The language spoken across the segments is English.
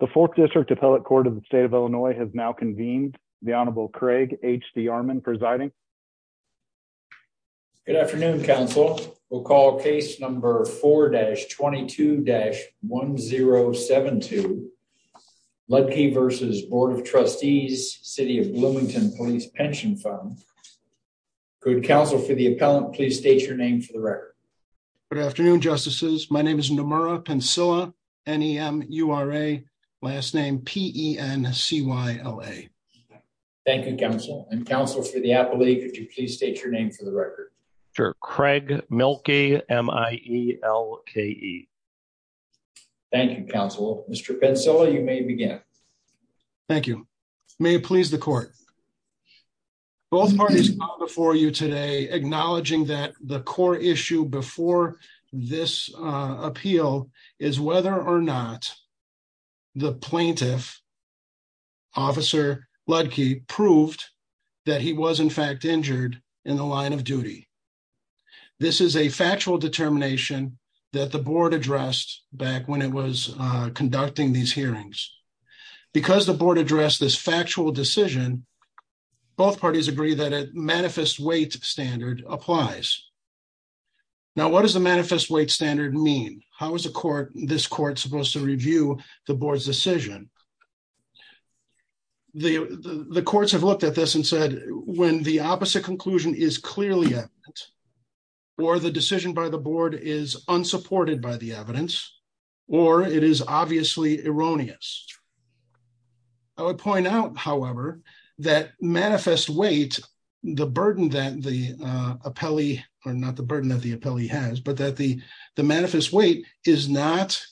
The Fourth District Appellate Court of the State of Illinois has now convened. The Honorable Craig H.D. Armon presiding. Good afternoon, counsel. We'll call case number 4-22-1072 Leudtke v. Board of Trustees City of Bloomington Police Pension Fund. Good counsel for the appellant, please state your name for the record. Good afternoon, justices. My name is Nomura Pencilla, N-E-M-U-R-A, last name P-E-N-C-Y-L-A. Thank you, counsel. And counsel for the appellate, could you please state your name for the record? Sure. Craig Mielke, M-I-E-L-K-E. Thank you, counsel. Mr. Pencilla, you may begin. Thank you. May it please the court. Both parties before you today acknowledging that the core issue before this appeal is whether or not the plaintiff, Officer Leudtke, proved that he was in fact injured in the line of duty. This is a factual determination that the board addressed back when it was conducting these decisions. Both parties agree that a manifest weight standard applies. Now, what does the manifest weight standard mean? How is this court supposed to review the board's decision? The courts have looked at this and said when the opposite conclusion is clearly evident, or the decision by the board is unsupported by the evidence, or it is obviously erroneous. I would point out, however, that manifest weight, the burden that the appellee, or not the burden that the appellee has, but that the manifest weight is not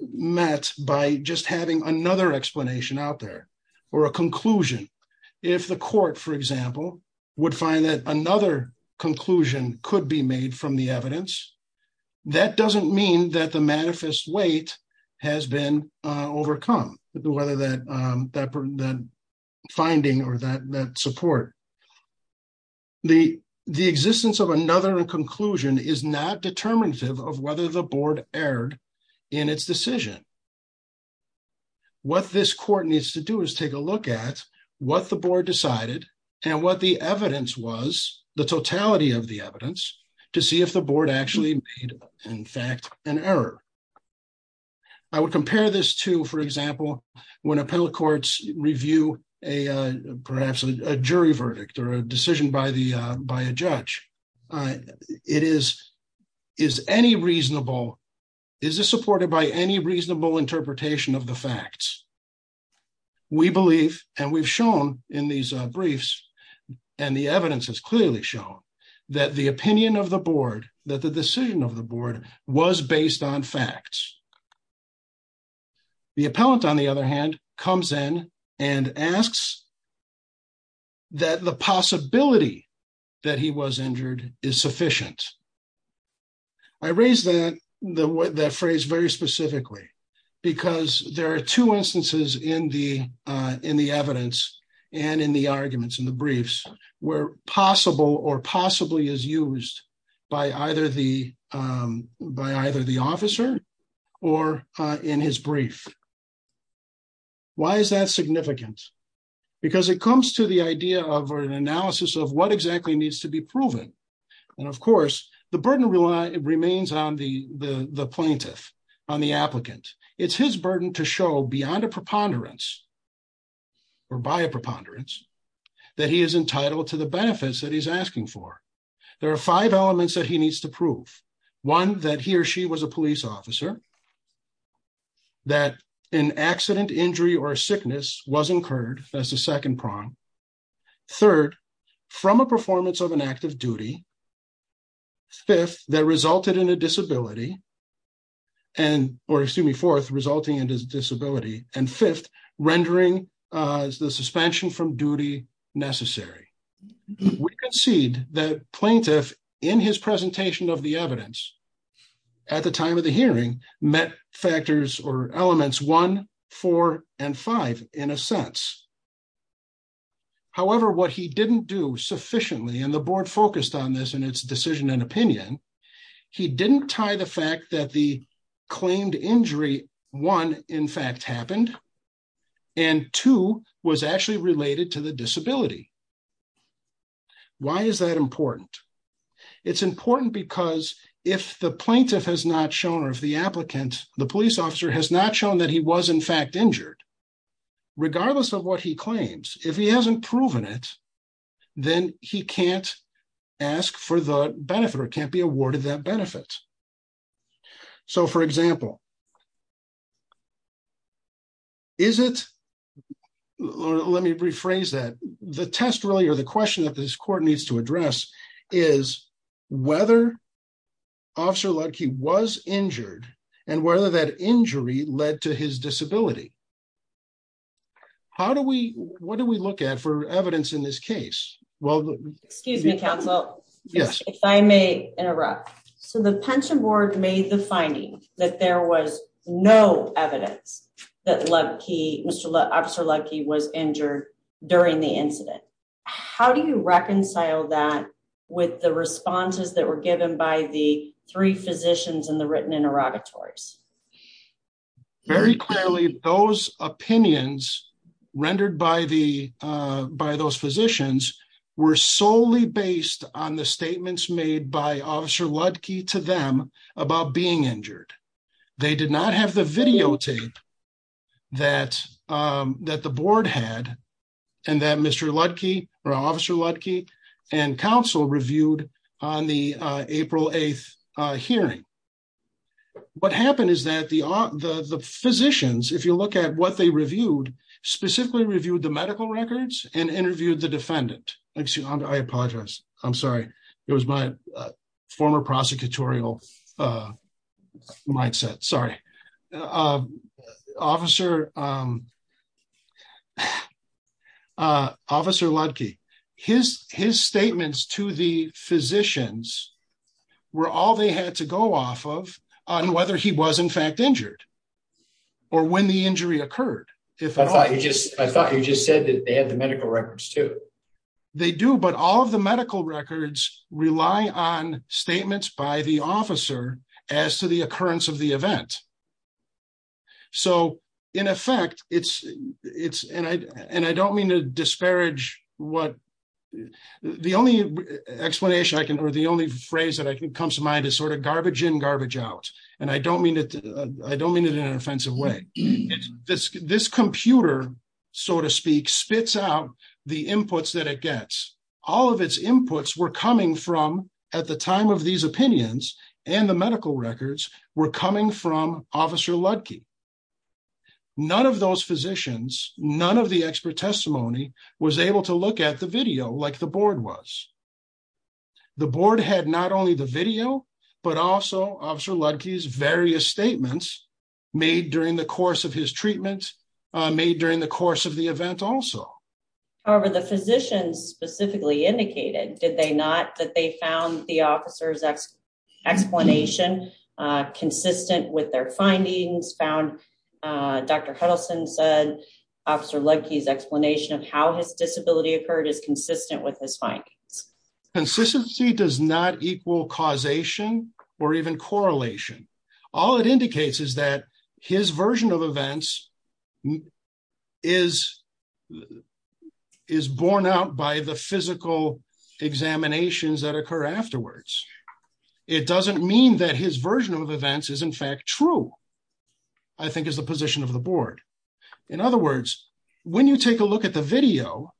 met by just having another explanation out there, or a conclusion. If the court, for example, would find that another conclusion could be made from the evidence, that doesn't mean that the overcome, whether that finding or that support. The existence of another conclusion is not determinative of whether the board erred in its decision. What this court needs to do is take a look at what the board decided and what the evidence was, the totality of the evidence, to see if the board actually made, in fact, an error. I would compare this to, for example, when appellate courts review perhaps a jury verdict or a decision by a judge. Is this supported by any reasonable interpretation of the facts? We believe, and we've shown in these briefs, and the evidence has clearly shown, that the opinion of the board, that the decision of the board was based on facts. The appellant, on the other hand, comes in and asks that the possibility that he was injured is sufficient. I raise that phrase very specifically because there are two instances in the evidence and in the arguments, in the briefs, where possible or possibly is used by either the officer or in his brief. Why is that significant? Because it comes to the idea of an analysis of what exactly needs to be proven. Of course, the burden remains on the plaintiff, on the applicant. It's his burden to show beyond a preponderance, or by a preponderance, that he is entitled to the benefits that he's asking for. There are five elements that he needs to prove. One, that he or she was a police officer, that an accident, injury, or sickness was incurred, that's the second prong. Third, from a performance of an act of duty. Fifth, that resulted in a disability, or excuse me, fourth, resulting in disability. Fifth, rendering the suspension from duty necessary. We concede that plaintiff, in his presentation of the evidence, at the time of the hearing, met factors or elements one, four, and five, in a sense. However, what he didn't do sufficiently, and the board focused on this in its decision and opinion, he didn't tie the fact that the claimed injury, one, in fact happened, and two, was actually related to the disability. Why is that important? It's important because if the plaintiff has not shown, or if the applicant, the police officer has not shown that he was in fact injured, regardless of what he claims, if he hasn't proven it, then he can't ask for the benefit, or can't be awarded that benefit. So, for example, is it, let me rephrase that, the test really, or the question that this court needs to address, is whether Officer Lutke was injured, and whether that injury led to his disability. How do we, what do we look at for evidence in this case? Well, excuse me, counsel. Yes, if I may interrupt. So, the pension board made the finding that there was no evidence that Lutke, Mr. Lutke, Officer Lutke was injured during the incident. How do you reconcile that with the responses that were given by the three physicians in the written interrogatories? Very clearly, those opinions rendered by the, by those physicians were solely based on the statements made by Officer Lutke to them about being injured. They did not have the videotape that, that the board had, and that Mr. Lutke, or Officer Lutke, and counsel reviewed on the April 8th hearing. What happened is that the physicians, if you look at what they reviewed, specifically reviewed the medical records and interviewed the defendant. I apologize. I'm sorry. It was my former prosecutorial mindset. Sorry. Officer Lutke, his statements to the physicians were all they had to go off of on whether he was in fact injured or when the injury occurred. If I thought you just, I thought you just said that they had the medical records too. They do, but all of the medical records rely on statements by the officer as to the occurrence of the event. So in effect, it's, it's, and I, and I don't mean to disparage what the only explanation I can, or the only phrase that comes to mind is sort of garbage in, garbage out. And I don't mean it, I don't mean it in an offensive way. This, this computer, so to speak, spits out the inputs that it gets. All of its inputs were coming from at the time of these and the medical records were coming from officer Lutke. None of those physicians, none of the expert testimony was able to look at the video like the board was. The board had not only the video, but also officer Lutke's various statements made during the course of his treatment, made during the course of the event also. However, the physicians specifically indicated, did they not, that they found the officer's explanation consistent with their findings, found Dr. Huddleston said officer Lutke's explanation of how his disability occurred is consistent with his findings. Consistency does not equal causation or even correlation. All it indicates is that his version of events is, is borne out by the physical examinations that occur afterwards. It doesn't mean that his version of events is in fact true, I think is the position of the board. In other words, when you take a look at the video,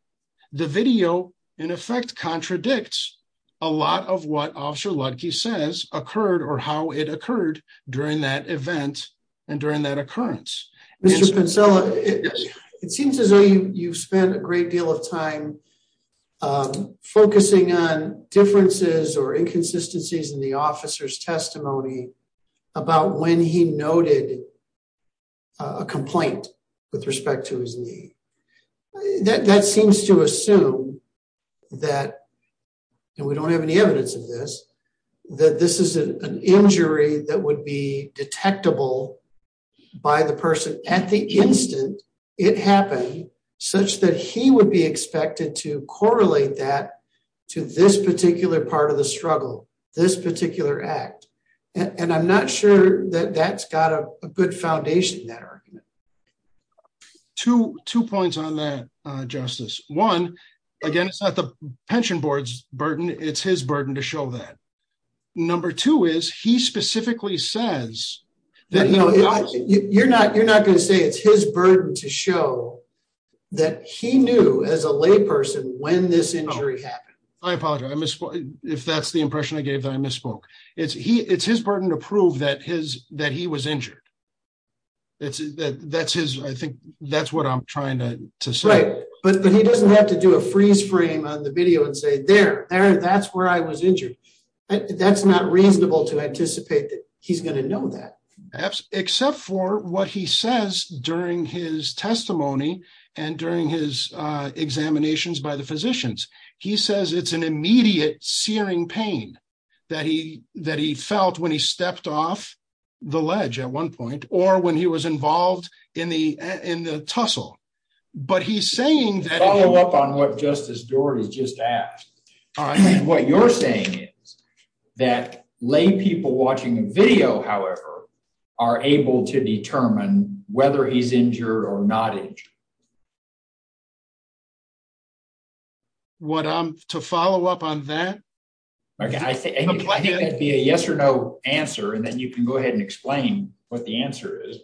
the video in effect contradicts a lot of what Lutke says occurred or how it occurred during that event and during that occurrence. It seems as though you've spent a great deal of time focusing on differences or inconsistencies in the officer's testimony about when he noted a complaint with respect to his knee. That seems to assume that, and we don't have any evidence of this, that this is an injury that would be detectable by the person at the instant it happened such that he would be expected to correlate that to this particular part of the struggle, this particular act. And I'm not sure that's got a good foundation in that argument. Two points on that, Justice. One, again, it's not the pension board's burden. It's his burden to show that. Number two is he specifically says that... You're not going to say it's his burden to show that he knew as a lay person when this injury happened. I apologize. If that's the impression I gave, then I misspoke. It's his burden to prove that he was injured. I think that's what I'm trying to say. Right. But he doesn't have to do a freeze frame on the video and say, there, that's where I was injured. That's not reasonable to anticipate that he's going to know that. Except for what he says during his testimony and during his examinations by the physicians. He says it's an immediate searing pain that he felt when he stepped off the ledge at one point or when he was involved in the tussle. But he's saying that... Follow up on what Justice Doar has just asked. What you're saying is that lay people watching a video, however, are able to determine whether he's injured or not injured. What I'm... To follow up on that... Okay. I think it'd be a yes or no answer. And then you can go ahead and explain what the answer is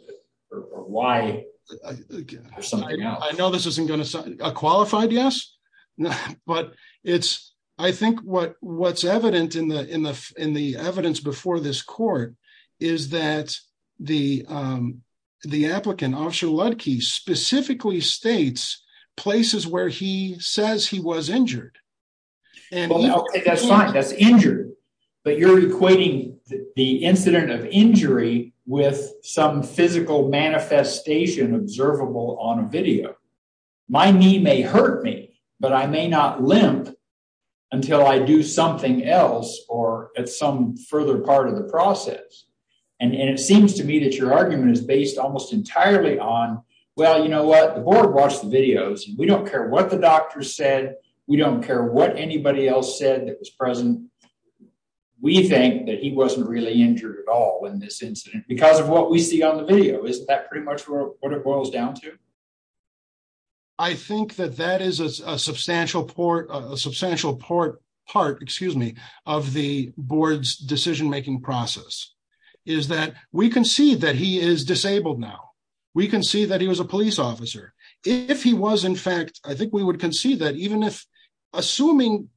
or why. I know this isn't going to... A qualified yes? But it's... I think what's evident in the evidence before this court is that the applicant, Officer Lutke, specifically states places where he says he was injured. That's fine. That's injured. But you're equating the incident of injury with some physical manifestation observable on a video. My knee may hurt me, but I may not limp until I do something else or at some further part of the process. And it seems to me that your argument is based almost entirely on, well, you know what? The board watched the videos. We don't care what the doctor said. We don't care what anybody else said that was present. We think that he wasn't really injured at all in this incident because of what we see on the video. Isn't that pretty much what it boils down to? I think that that is a substantial part of the board's decision-making process, is that we can see that he is disabled now. We can see that he was a police officer. If he was, in fact, I think we would concede that even if... Assuming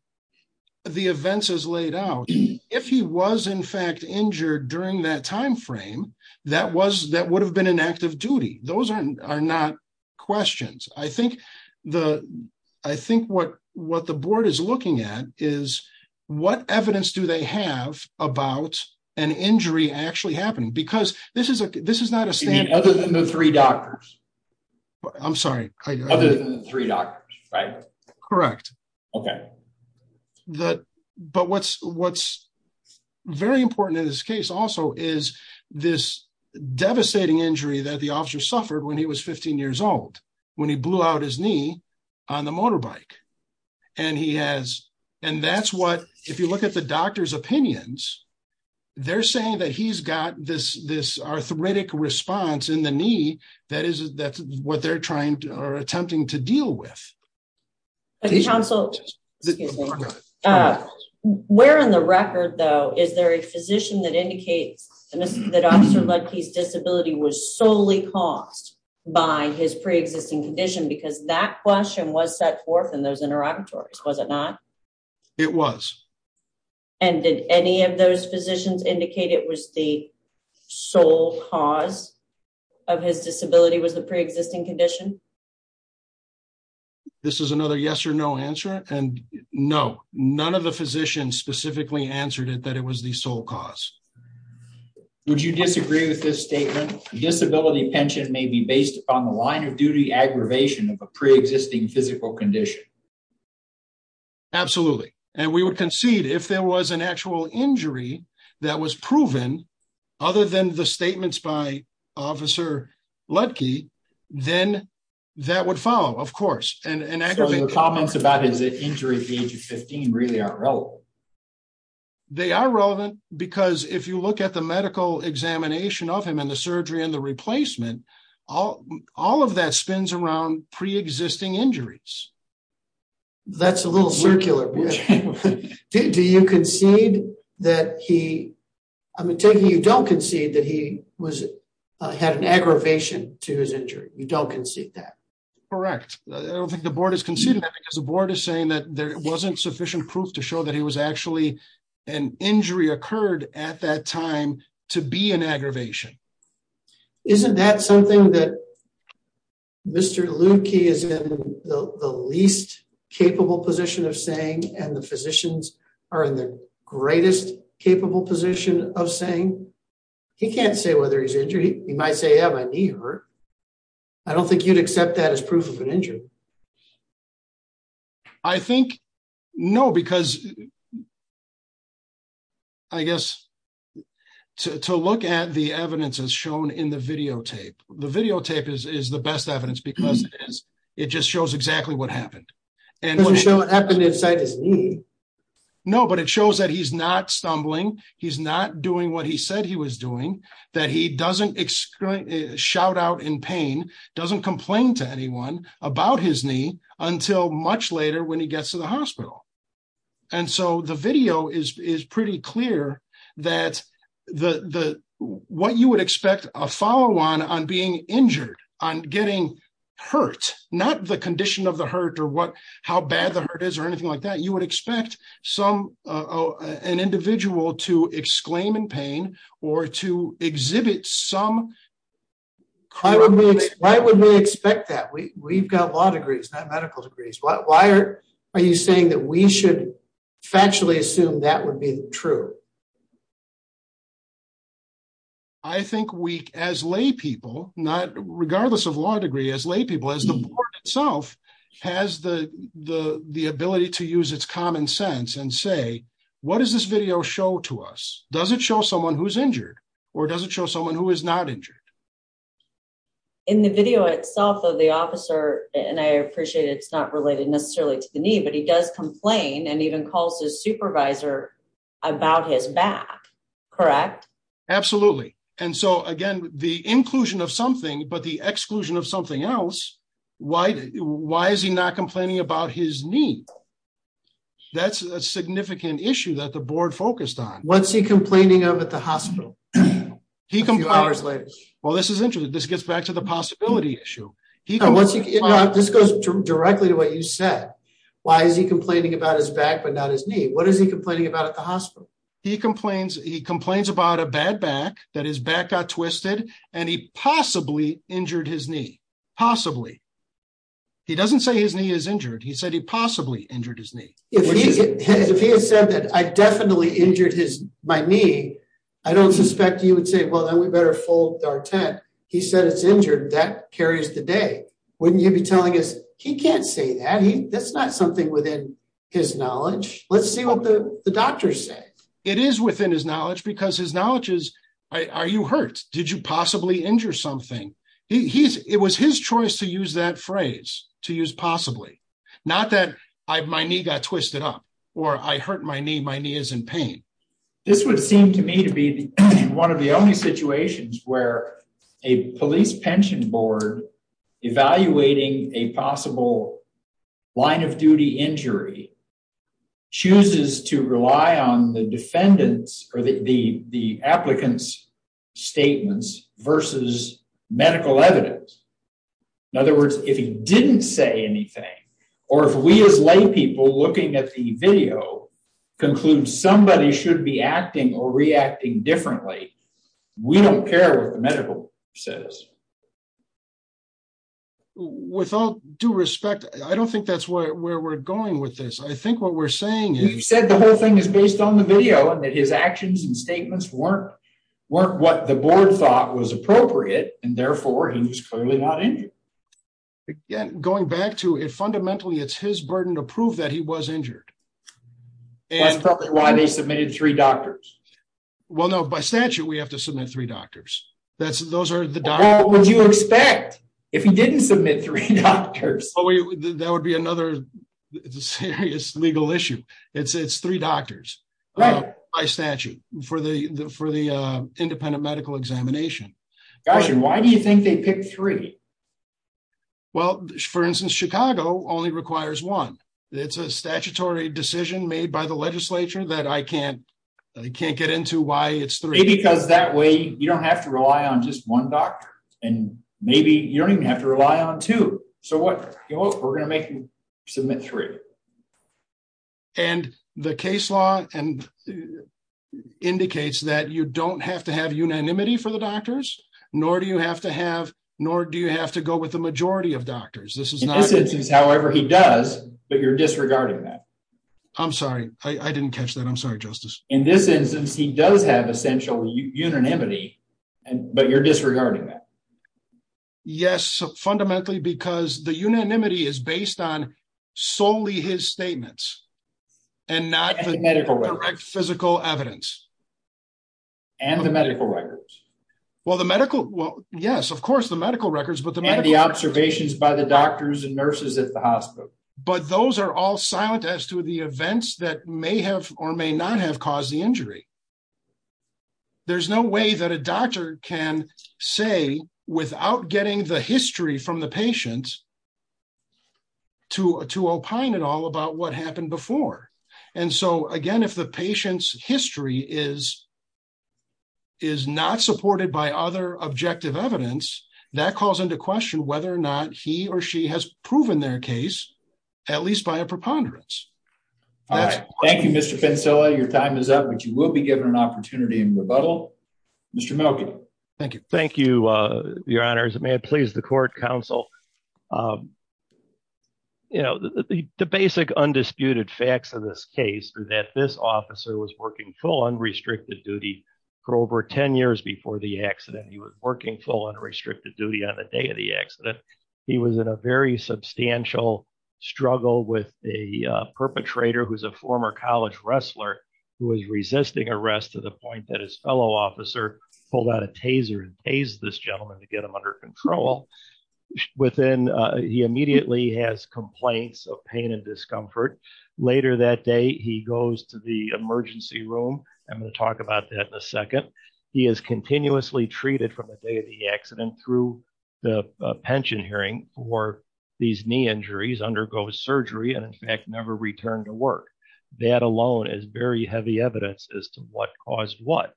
the events as laid out, if he was, in fact, injured during that time frame, that would have been an act of duty. Those are not questions. I think what the board is looking at is what evidence do they have about an injury actually happening? Because this is not a standard... Other than the three doctors. I'm sorry. Other than the three doctors, right? Correct. Okay. But what's very important in this case also is this devastating injury that the officer suffered when he was 15 years old, when he blew out his knee on the motorbike. And that's what, if you look at the doctor's opinions, they're saying that he's got this arthritic response in the knee. That's what they're attempting to deal with. Counsel, excuse me. Where in the record, though, is there a physician that indicates that Officer Ludke's disability was solely caused by his pre-existing condition? Because that question was set forth in those interrogatories, was it not? It was. And did any of those physicians indicate it was the sole cause of his disability, was the pre-existing condition? This is another yes or no answer. And no, none of the physicians specifically answered it that it was the sole cause. Would you disagree with this statement? Disability pension may be based upon the line of duty aggravation of a pre-existing physical condition. Absolutely. And we would concede if there was an actual injury that was proven other than the statements by Officer Ludke, then that would follow, of course. So the comments about his injury at the age of 15 really aren't relevant? They are relevant because if you look at the medical examination of him and the surgery and the replacement, all of that spins around pre-existing injuries. That's a little circular. Do you concede that he, I'm taking you don't concede that he had an aggravation to his injury. You don't concede that? Correct. I don't think the board has conceded that because the board is saying that there wasn't sufficient proof to show that he was actually, an injury occurred at that time to be an aggravation. Isn't that something that Mr. Ludke is in the least capable position of saying, and the physicians are in the greatest capable position of saying? He can't say whether he's injured. He might say, yeah, my knee hurt. I don't think you'd accept that as proof of an injury. I think no, because I guess to look at the evidence as shown in the videotape, the videotape is the best evidence because it just shows exactly what happened. It doesn't show what happened inside his knee. No, but it shows that he's not stumbling. He's not doing what he said he was doing, that he doesn't shout out in pain, doesn't complain to anyone about his knee until much later when he gets to the hospital. The video is pretty clear that what you would expect a follow-on on being injured, on getting hurt, not the condition of the hurt or how bad the hurt is you would expect an individual to exclaim in pain or to exhibit some- Why would we expect that? We've got law degrees, not medical degrees. Why are you saying that we should factually assume that would be true? I think we, as lay people, regardless of law degree, as lay people, as the board itself has the ability to use its common sense and say, what does this video show to us? Does it show someone who's injured or does it show someone who is not injured? In the video itself of the officer, and I appreciate it's not related necessarily to the knee, but he does complain and even calls his supervisor about his back, correct? Absolutely. And so again, the inclusion of something, but the exclusion of something else, why is he not complaining about his knee? That's a significant issue that the board focused on. What's he complaining of at the hospital? A few hours later. Well, this is interesting. This gets back to the possibility issue. This goes directly to what you said. Why is he complaining about his back, but not his knee? What is he complaining about at the hospital? He complains about a bad back, that his back got twisted and he possibly injured his knee. Possibly. He doesn't say his knee is injured. He said he possibly injured his knee. If he had said that I definitely injured my knee, I don't suspect he would say, well, then we better fold our tent. He said it's injured. That carries the day. Wouldn't you be telling us, he can't say that. That's not something within his knowledge. Let's see what the doctors say. It is within his knowledge because his knowledge is, are you hurt? Did you possibly injure something? It was his choice to use that phrase, to use possibly. Not that my knee got twisted up or I hurt my knee. My knee is in pain. This would seem to me to be one of the only situations where a police pension board evaluating a possible line of duty injury chooses to rely on the defendants or the applicants statements versus medical evidence. In other words, if he didn't say anything, or if we as lay people looking at the video concludes somebody should be acting or reacting differently, we don't care what the medical says. With all due respect, I don't think that's where we're going with this. I think what we're saying is. You said the whole thing is based on the video and that his actions and statements weren't what the board thought was appropriate. Therefore, he was clearly not injured. Going back to it, fundamentally, it's his burden to prove that he was injured. That's probably why they submitted three doctors. By statute, we have to submit three doctors. Those are the doctors. What would you expect if he didn't submit three doctors? That would be another serious legal issue. It's three doctors. By statute, for the independent medical examination. Why do you think they picked three? For instance, Chicago only requires one. It's a statutory decision made by the legislature that I can't get into why it's three. Maybe because that way you don't have to rely on just one doctor. Maybe you don't even have to rely on two. We're going to make him submit three. The case law indicates that you don't have to have unanimity for the doctors, nor do you have to go with the majority of doctors. In this instance, however, he does, but you're disregarding that. I'm sorry. I didn't catch that. I'm sorry, Justice. In this instance, he does have essential unanimity, but you're disregarding that. Yes. Fundamentally, because the unanimity is based on solely his statements and not the medical record, physical evidence, and the medical records. Well, the medical, well, yes, of course, the medical records, but the medical observations by the doctors and nurses at the hospital. There's no way that a doctor can say without getting the history from the patient to opine at all about what happened before. Again, if the patient's history is not supported by other objective evidence, that calls into question whether or not he or she has proven their case, at least by a preponderance. All right. Thank you, Mr. Pencilla. Your time is up, but you will be given an opportunity in rebuttal. Mr. Milken. Thank you. Thank you, your honors. May it please the court counsel. The basic undisputed facts of this case are that this officer was working full unrestricted duty for over 10 years before the accident. He was working full unrestricted duty on the day of the accident. He was in a very substantial struggle with a perpetrator who's a former college wrestler who was resisting arrest to the point that his fellow officer pulled out a taser and hazed this gentleman to get him under control. Within, he immediately has complaints of pain and discomfort. Later that day, he goes to the emergency room. I'm going to talk about that in a second. He is continuously treated from the day the accident through the pension hearing for these knee injuries, undergoes surgery, and in fact, never returned to work. That alone is very heavy evidence as to what caused what.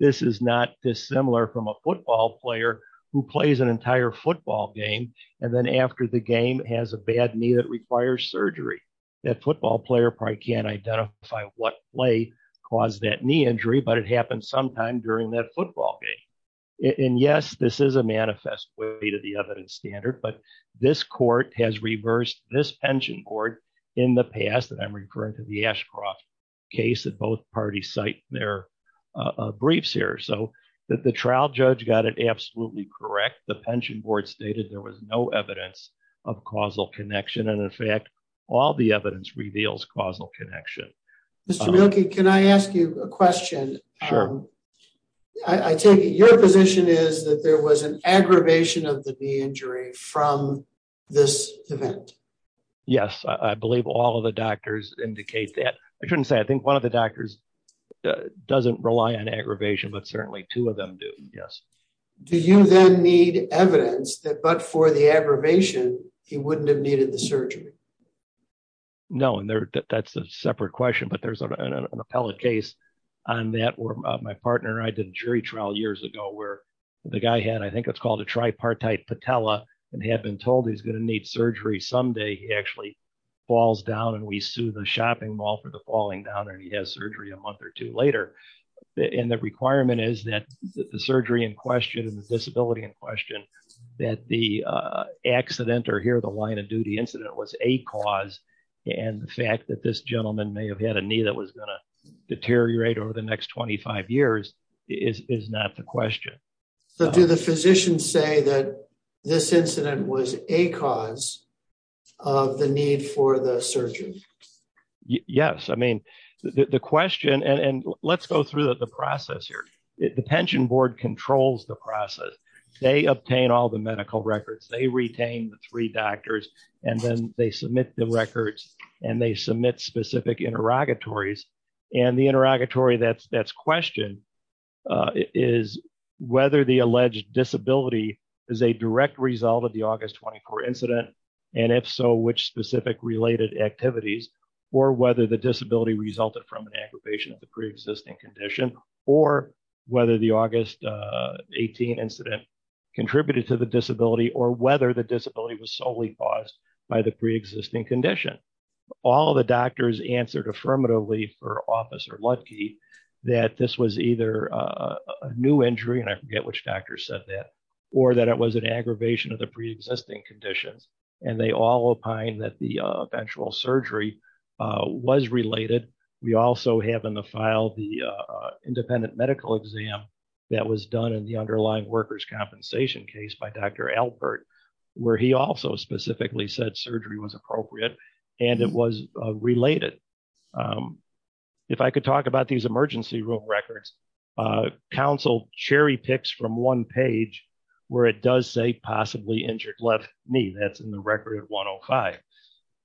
This is not dissimilar from a football player who plays an entire football game and then after the game has a bad knee that requires surgery. That football player probably can't identify what play caused that knee injury, but it happened sometime during that football game. Yes, this is a manifest way to the evidence standard, but this court has reversed this pension board in the past, and I'm referring to the Ashcroft case that both parties cite their briefs here. The trial judge got it absolutely correct. The pension board stated there was no evidence of causal connection, and in fact, all the evidence reveals causal connection. Mr. Mielke, can I ask you a question? Sure. I take it your position is that there was an aggravation of the knee injury from this event. Yes, I believe all of the doctors indicate that. I shouldn't say, I think one of the doctors doesn't rely on aggravation, but certainly two of them do. Yes. Do you then need evidence that for the aggravation, he wouldn't have needed the surgery? No, and that's a separate question, but there's an appellate case on that where my partner and I did a jury trial years ago where the guy had, I think it's called a tripartite patella, and had been told he's going to need surgery someday. He actually falls down, and we sue the shopping mall for the falling down, and he has surgery a month or two later. The requirement is that the surgery in question, disability in question, that the accident or here the line of duty incident was a cause, and the fact that this gentleman may have had a knee that was going to deteriorate over the next 25 years is not the question. Do the physicians say that this incident was a cause of the need for the surgery? Yes. I mean, the question, and let's go through the process here. The pension board controls the process. They obtain all the medical records. They retain the three doctors, and then they submit the records, and they submit specific interrogatories, and the interrogatory that's questioned is whether the alleged disability is a direct result of the August 24 incident, and if so, which specific related activities, or whether the disability resulted from an aggravation of the preexisting condition, or whether the August 18 incident contributed to the disability, or whether the disability was solely caused by the preexisting condition. All of the doctors answered affirmatively for Officer Lutke that this was either a new injury, and I forget which doctor said that, or that it was an aggravation of the preexisting conditions, and they all opine that the eventual surgery was related. We also have in the file the independent medical exam that was done in the underlying workers' compensation case by Dr. Albert, where he also specifically said surgery was appropriate, and it was related. If I could talk about these emergency room records, counsel cherry picks from one page where it does say possibly injured left knee. That's in the file.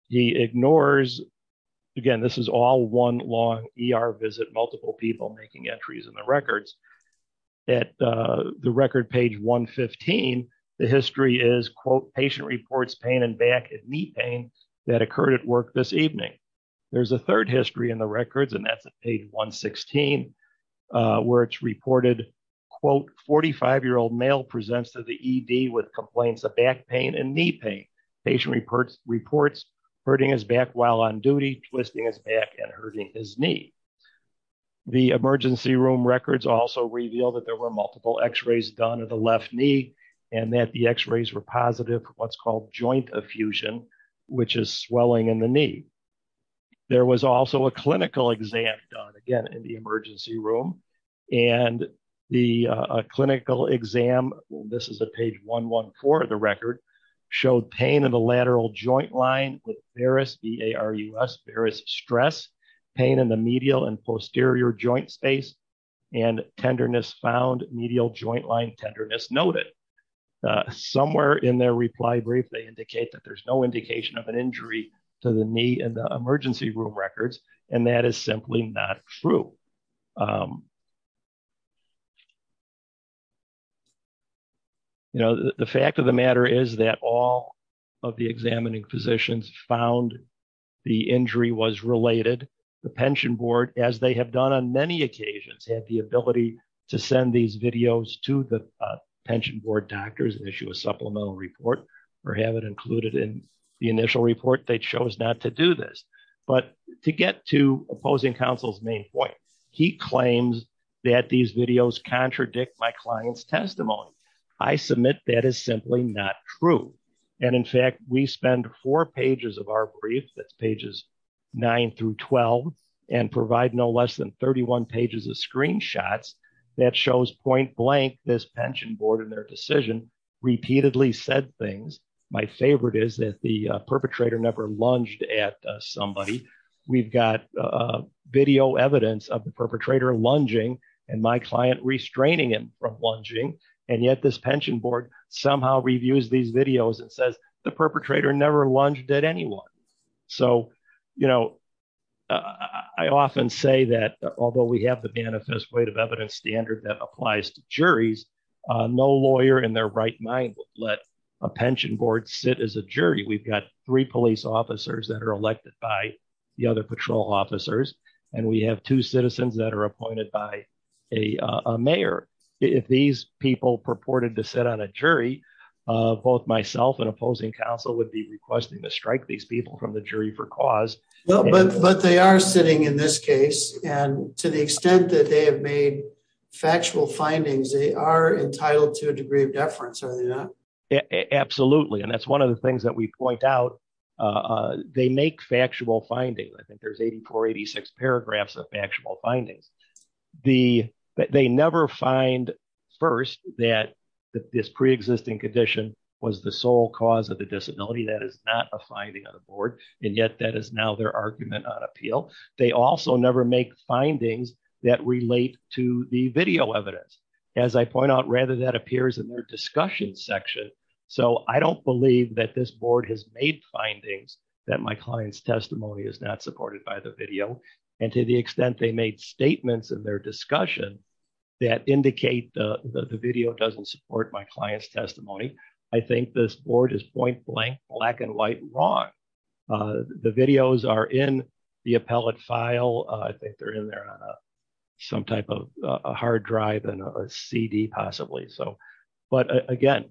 He ignores, again, this is all one long ER visit, multiple people making entries in the records. At the record page 115, the history is, quote, patient reports pain in back and knee pain that occurred at work this evening. There's a third history in the records, and that's at page 116, where it's reported, quote, 45-year-old male presents to the ED with complaints of back pain and knee pain. Patient reports hurting his back while on duty, twisting his back and hurting his knee. The emergency room records also reveal that there were multiple x-rays done of the left knee and that the x-rays were positive for what's called joint effusion, which is swelling in the knee. There was also a clinical exam done, again, in the emergency room, and the clinical exam, this is at page 114 of the record, showed pain in the lateral joint line with varus, V-A-R-U-S, varus stress, pain in the medial and posterior joint space, and tenderness found, medial joint line tenderness noted. Somewhere in their reply brief, they indicate that there's no indication of an injury to the knee in the emergency room records, and that is simply not true. You know, the fact of the matter is that all of the examining physicians found the injury was related. The pension board, as they have done on many occasions, had the ability to send these videos to the pension board doctors and issue a supplemental report or have it included in the initial report. They chose not to do this, but to get to opposing counsel's main point, he claims that these videos contradict my client's testimony. I submit that is simply not true, and in fact, we spend four pages of our brief, that's pages 9 through 12, and provide no less than 31 pages of screenshots that shows point blank this pension board and their decision repeatedly said things. My favorite is that the perpetrator never lunged at somebody. We've got video evidence of the perpetrator lunging and my client restraining him from lunging, and yet this pension board somehow reviews these videos and says the perpetrator never lunged at anyone. So, you know, I often say that although we have the manifest weight of evidence standard that applies to juries, no lawyer in their right mind would let a pension board sit as a jury. We've got three police officers that are elected by the other patrol officers, and we have two citizens that are appointed by a mayor. If these people purported to sit on a jury, both myself and opposing counsel would be requesting to strike these people from the jury for cause. But they are sitting in this case, and to the extent that they have made factual findings, they are entitled to a degree of deference, are they not? Absolutely, and that's one of the things that we point out. They make factual findings. I think there's 84, 86 paragraphs of factual findings. They never find first that this pre-existing condition was the sole cause of the disability. That is not a finding on the board, and yet that is now their argument on appeal. They also never make findings that relate to the video evidence. As I point out, rather that appears in their discussion section. So I don't believe that this board has made findings that my client's testimony is not supported by the video, and to the extent they made statements in their discussion that indicate the video doesn't support my client's testimony, I think this board is point blank, black and white wrong. The videos are in the appellate file. I think they're in there on some type of a hard drive and a CD possibly. But again,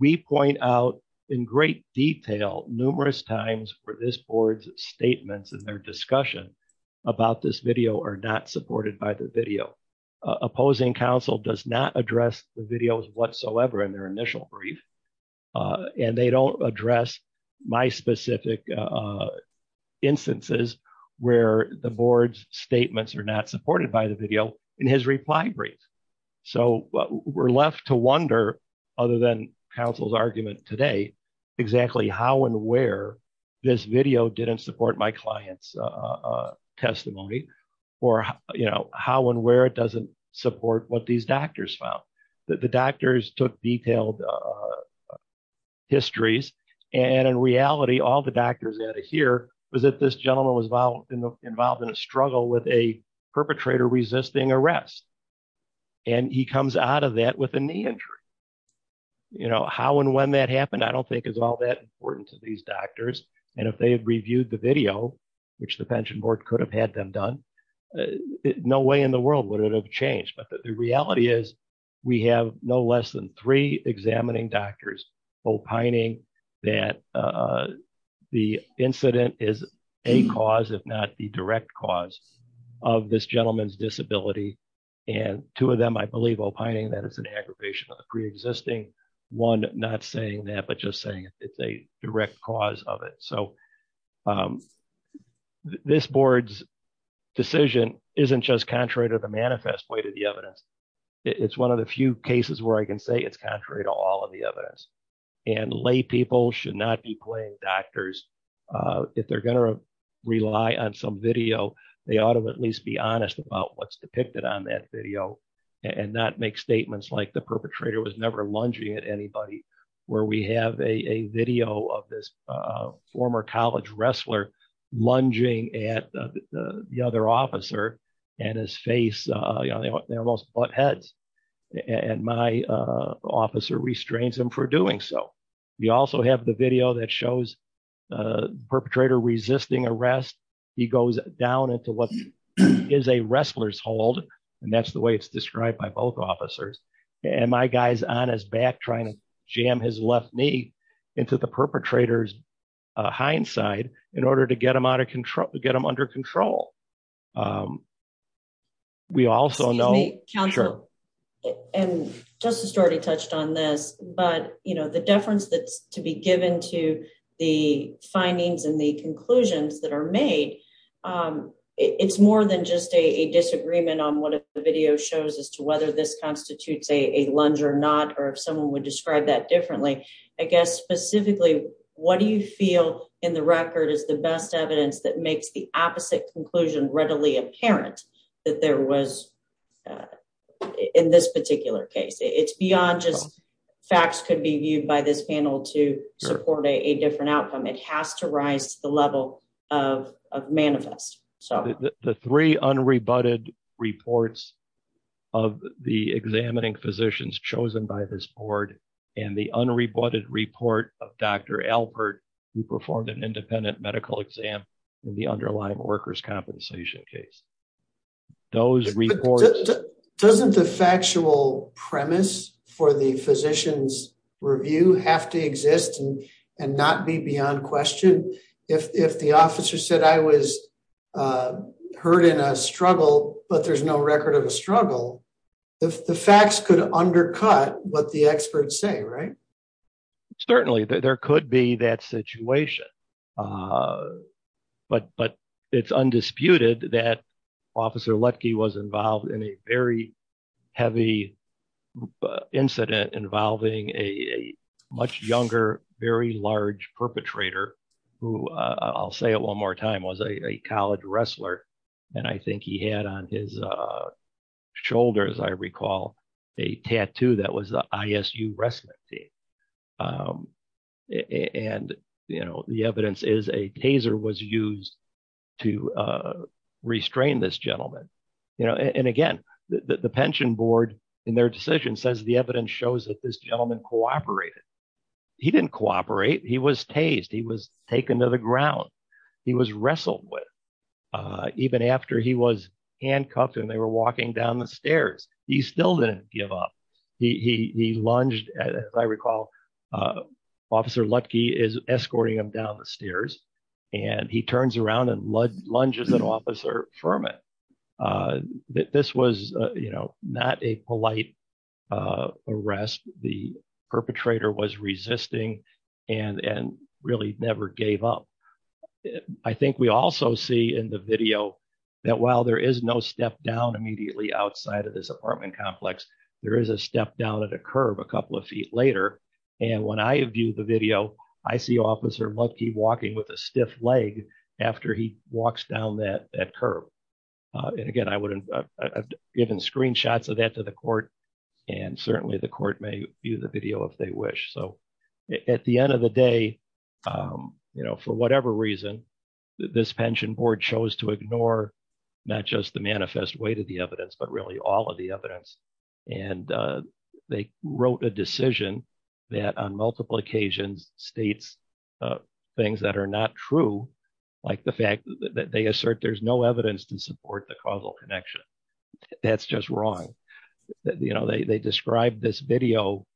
we point out in great detail numerous times for this board's statements in their discussion about this video are not supported by the video. Opposing counsel does not address the videos whatsoever in their initial brief, and they don't address my specific instances where the board's statements are not supported by the video in his reply brief. So we're left to wonder, other than counsel's argument today, exactly how and where this video didn't support my client's testimony, or how and where it doesn't support what these doctors found. The doctors took detailed histories, and in reality, all the doctors had to hear was that this gentleman was involved in a struggle with a perpetrator resisting arrest, and he comes out of that with a knee injury. How and when that happened I don't think is all that important to these doctors, and if they had reviewed the video, which the pension board could have had them done, no way in the world would it have changed. But the reality is we have no less than three examining doctors opining that the incident is a cause, if not the direct cause, of this gentleman's disability, and two of them, I believe, opining that it's an aggravation of the pre-existing, one not saying that, but just saying it's a direct cause of it. So this board's decision isn't just contrary to the manifest way to the evidence. It's one of the few cases where I can say it's contrary to all of the evidence, and lay people should not be playing doctors. If they're going to rely on some video, they ought to at least be honest about what's depicted on that video, and not make statements like the perpetrator was never lunging at anybody, where we have a video of this former college wrestler lunging at the other officer, and his face, you know, they almost butt heads, and my officer restrains him for doing so. We also have the video that shows the perpetrator resisting arrest. He goes down into what is a wrestler's hold, and that's the way it's described by both officers, and my guy's on his back trying to jam his left knee into the perpetrator's hind side in order to get him under control. We also know... Excuse me, counsel, and Justice already touched on this, but, you know, the deference that's to be given to the findings and the conclusions that are made, it's more than just a disagreement on what the video shows as to whether this constitutes a lunge or not, or if someone would describe that differently. I guess specifically, what do you feel in the record is the best evidence that makes the opposite conclusion readily apparent that there was in this particular case? It's beyond just facts could be viewed by this panel to support a different outcome. It has to rise to the level of manifest. The three unrebutted reports of the examining physicians chosen by this board, and the unrebutted report of Dr. Alpert, who performed an independent medical exam in the underlying workers' compensation case. Those reports... Doesn't the factual premise for the physician's review have to exist and not be beyond question? If the officer said, I was hurt in a struggle, but there's no record of a struggle, the facts could undercut what the experts say, right? Certainly, there could be that situation, but it's undisputed that Officer Lutke was involved in a very heavy incident involving a much younger, very large perpetrator, who I'll say it one more time, was a college wrestler. I think he had on his shoulders, I recall, a tattoo that was the ISU wrestling team. The evidence is a taser was used to restrain this gentleman. Again, the pension board in their decision says the evidence shows that this gentleman cooperated. He didn't cooperate. He was tased. He was taken to the ground. He was wrestled with. Even after he was handcuffed and they were walking down the stairs, he still didn't give up. He lunged, as I recall, Officer Lutke is escorting him down the stairs. He turns around and lunges an officer from it. This was not a polite arrest. The perpetrator was resisting and really never gave up. I think we also see in the video that while there is no step down immediately outside of this apartment complex, there is a step down at a curve a couple of feet later. When I view the video, I see Officer Lutke walking with a stiff leg after he walks down that curve. Again, I've given screenshots of that to the court. Certainly, the court may view the video if they wish. At the end of the day, for whatever reason, this pension board chose to ignore not just the manifest weight of the evidence, but really all of the evidence. And they wrote a decision that on multiple occasions states things that are not true, like the fact that they assert there's no evidence to support the causal connection. That's just wrong. They described this video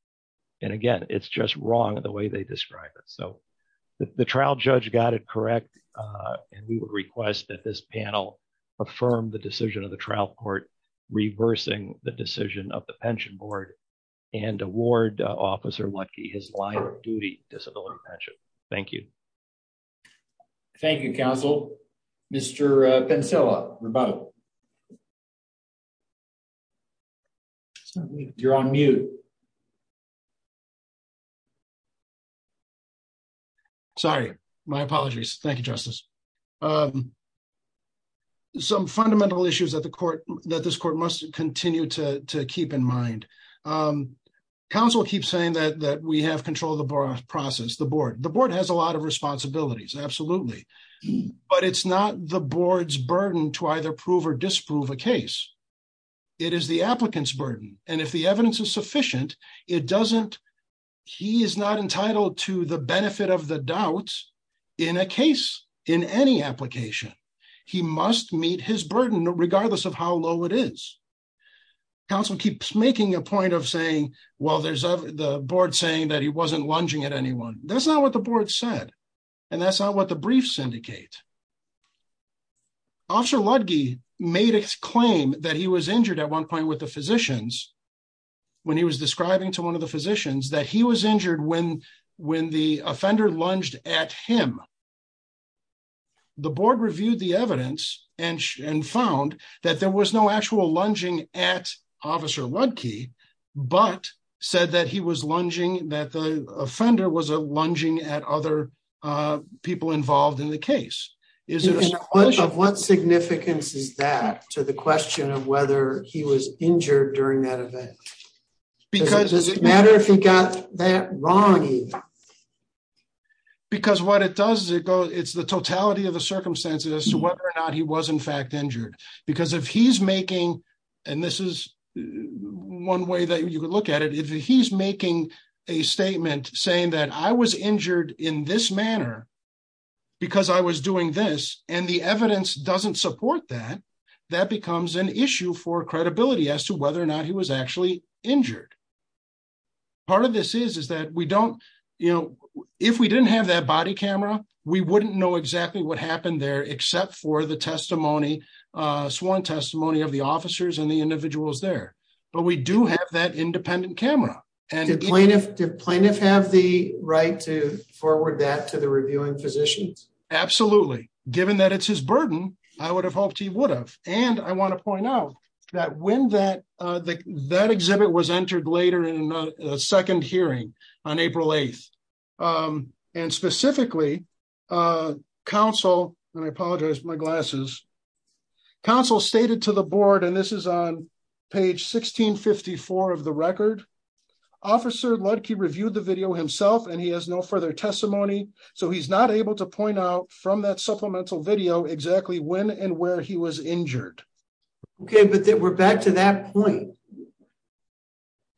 and again, it's just wrong the way they describe it. The trial judge got it correct and we would request that this panel affirm the decision of the trial court reversing the decision of the pension board and award Officer Lutke his life duty disability pension. Thank you. Thank you, counsel. Mr. Pencilla, you're on mute. Sorry, my apologies. Thank you, Justice. Some fundamental issues that this court must continue to keep in mind. Counsel keeps saying that we have control of the process, the board. The board has a lot of responsibilities, absolutely. But it's not the board's burden to either prove or disprove a case. It is the applicant's burden. And if the evidence is sufficient, it doesn't, he is not entitled to the benefit of the doubts in a case in any application. He must meet his burden, regardless of how low it is. Counsel keeps making a point of saying, well, there's the board saying that he wasn't lunging at anyone. That's not what the board said. And that's not what the briefs indicate. Officer Lutke made a claim that he was injured at one point with the physicians when he was describing to one of the physicians that he was injured when the offender lunged at him. The board reviewed the evidence and found that there was no actual lunging at Officer Lutke, but said that he was lunging, that the offender was lunging at other people involved in the case. What significance is that to the question of whether he was injured during that event? Does it matter if he got that wrong? Because what it does is it goes, it's the totality of the circumstances as to whether or not he was in fact injured. Because if he's making, and this is one way that you could look at it, if he's making a statement saying that I was injured in this manner, because I was doing this and the evidence doesn't support that, that becomes an issue for credibility as to whether or not he was actually injured. Part of this is, is that we don't, you know, if we didn't have that body camera, we wouldn't know exactly what happened there except for the testimony, sworn testimony of the officers and the individuals there. But we do have that independent camera. And do plaintiffs have the right to forward that to the reviewing physicians? Absolutely. Given that it's his burden, I would have hoped he would have. And I want to point out that when that exhibit was entered later in a second hearing on April 8th, and specifically counsel, and I apologize my glasses, counsel stated to the board, and this is on page 1654 of the record, Officer Ludke reviewed the video himself and he has no further testimony. So he's not able to point out from that supplemental video exactly when and where he was injured. Okay, but then we're back to that point.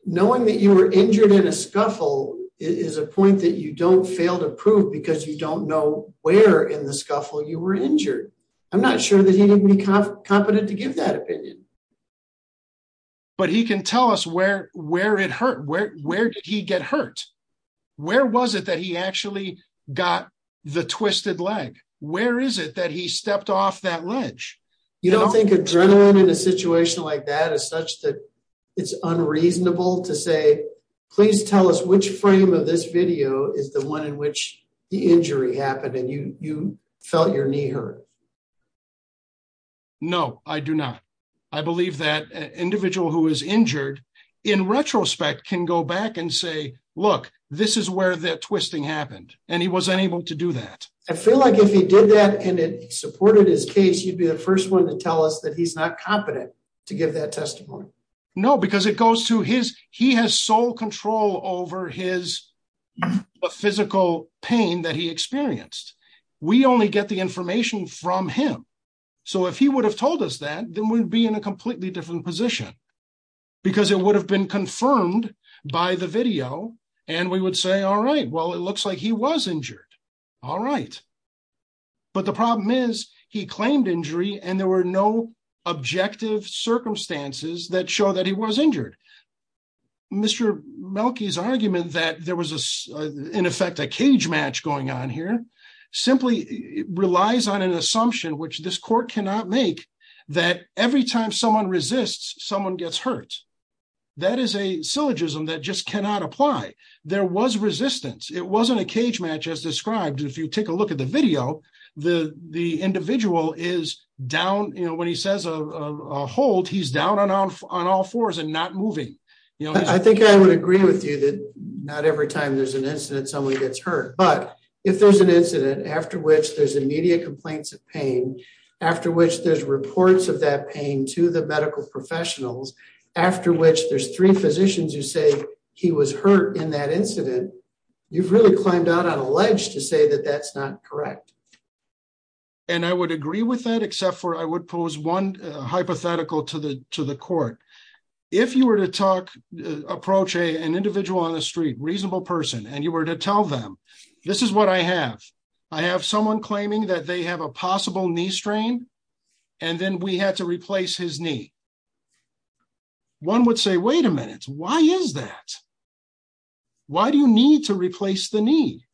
Knowing that you were injured in a scuffle is a point that you don't fail to prove because you don't know where in the scuffle you were injured. I'm not sure that he didn't be competent to give that opinion. But he can tell us where, where it hurt, where did he get hurt? Where was it that he actually got the twisted leg? Where is it that he stepped off that ledge? You don't think adrenaline in a situation like that is such that it's unreasonable to say, please tell us which frame of this video is the one in which the injury happened and you felt your knee hurt? No, I do not. I believe that an individual who is injured, in retrospect, can go back and say, look, this is where that twisting happened, and he wasn't able to do that. I feel like if he did that, and it supported his case, you'd be the first one to tell us that he's not competent to give that testimony. No, because it goes to his, he has sole control over his physical pain that he experienced. We only get the information from him. So if he would have told us that, then we'd be in a because it would have been confirmed by the video. And we would say, all right, well, it looks like he was injured. All right. But the problem is he claimed injury and there were no objective circumstances that show that he was injured. Mr. Melke's argument that there was, in effect, a cage match going on here simply relies on an assumption, which this court cannot make, that every time someone resists, someone gets hurt. That is a syllogism that just cannot apply. There was resistance. It wasn't a cage match as described. If you take a look at the video, the individual is down. When he says a hold, he's down on all fours and not moving. I think I would agree with you that not every time there's an incident, someone gets hurt. But if there's an incident after which there's immediate complaints of pain, after which there's reports of that pain to the medical professionals, after which there's three physicians who say he was hurt in that incident, you've really climbed out on a ledge to say that that's not correct. And I would agree with that, except for I would pose one hypothetical to the court. If you were to talk, approach an individual on the street, reasonable person, and you were to tell them, this is what I have. I have someone claiming that they have a possible knee strain, and then we had to replace his knee. One would say, wait a minute. Why is that? Why do you need to replace the knee?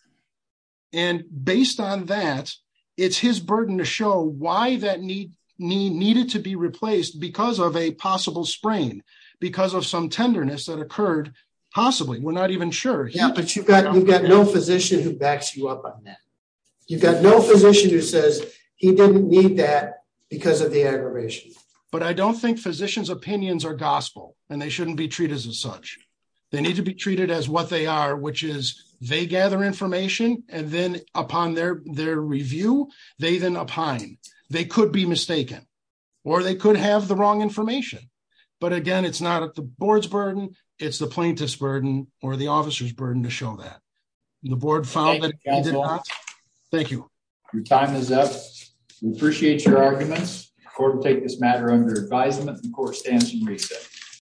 And based on that, it's his burden to show why that knee needed to be replaced because of a possible sprain, because of some tenderness that occurred, possibly. We're not even sure. But you've got no physician who backs you up on that. You've got no physician who says he didn't need that because of the aggravation. But I don't think physicians' opinions are gospel, and they shouldn't be treated as such. They need to be treated as what they are, which is they gather information, and then upon their review, they then opine. They could be mistaken, or they could have the wrong information. But again, it's not the board's burden, it's the plaintiff's burden or the officer's burden to show that. The board found that he did not. Thank you. Your time is up. We appreciate your arguments. The court will take this matter under advisement. The court stands in recess.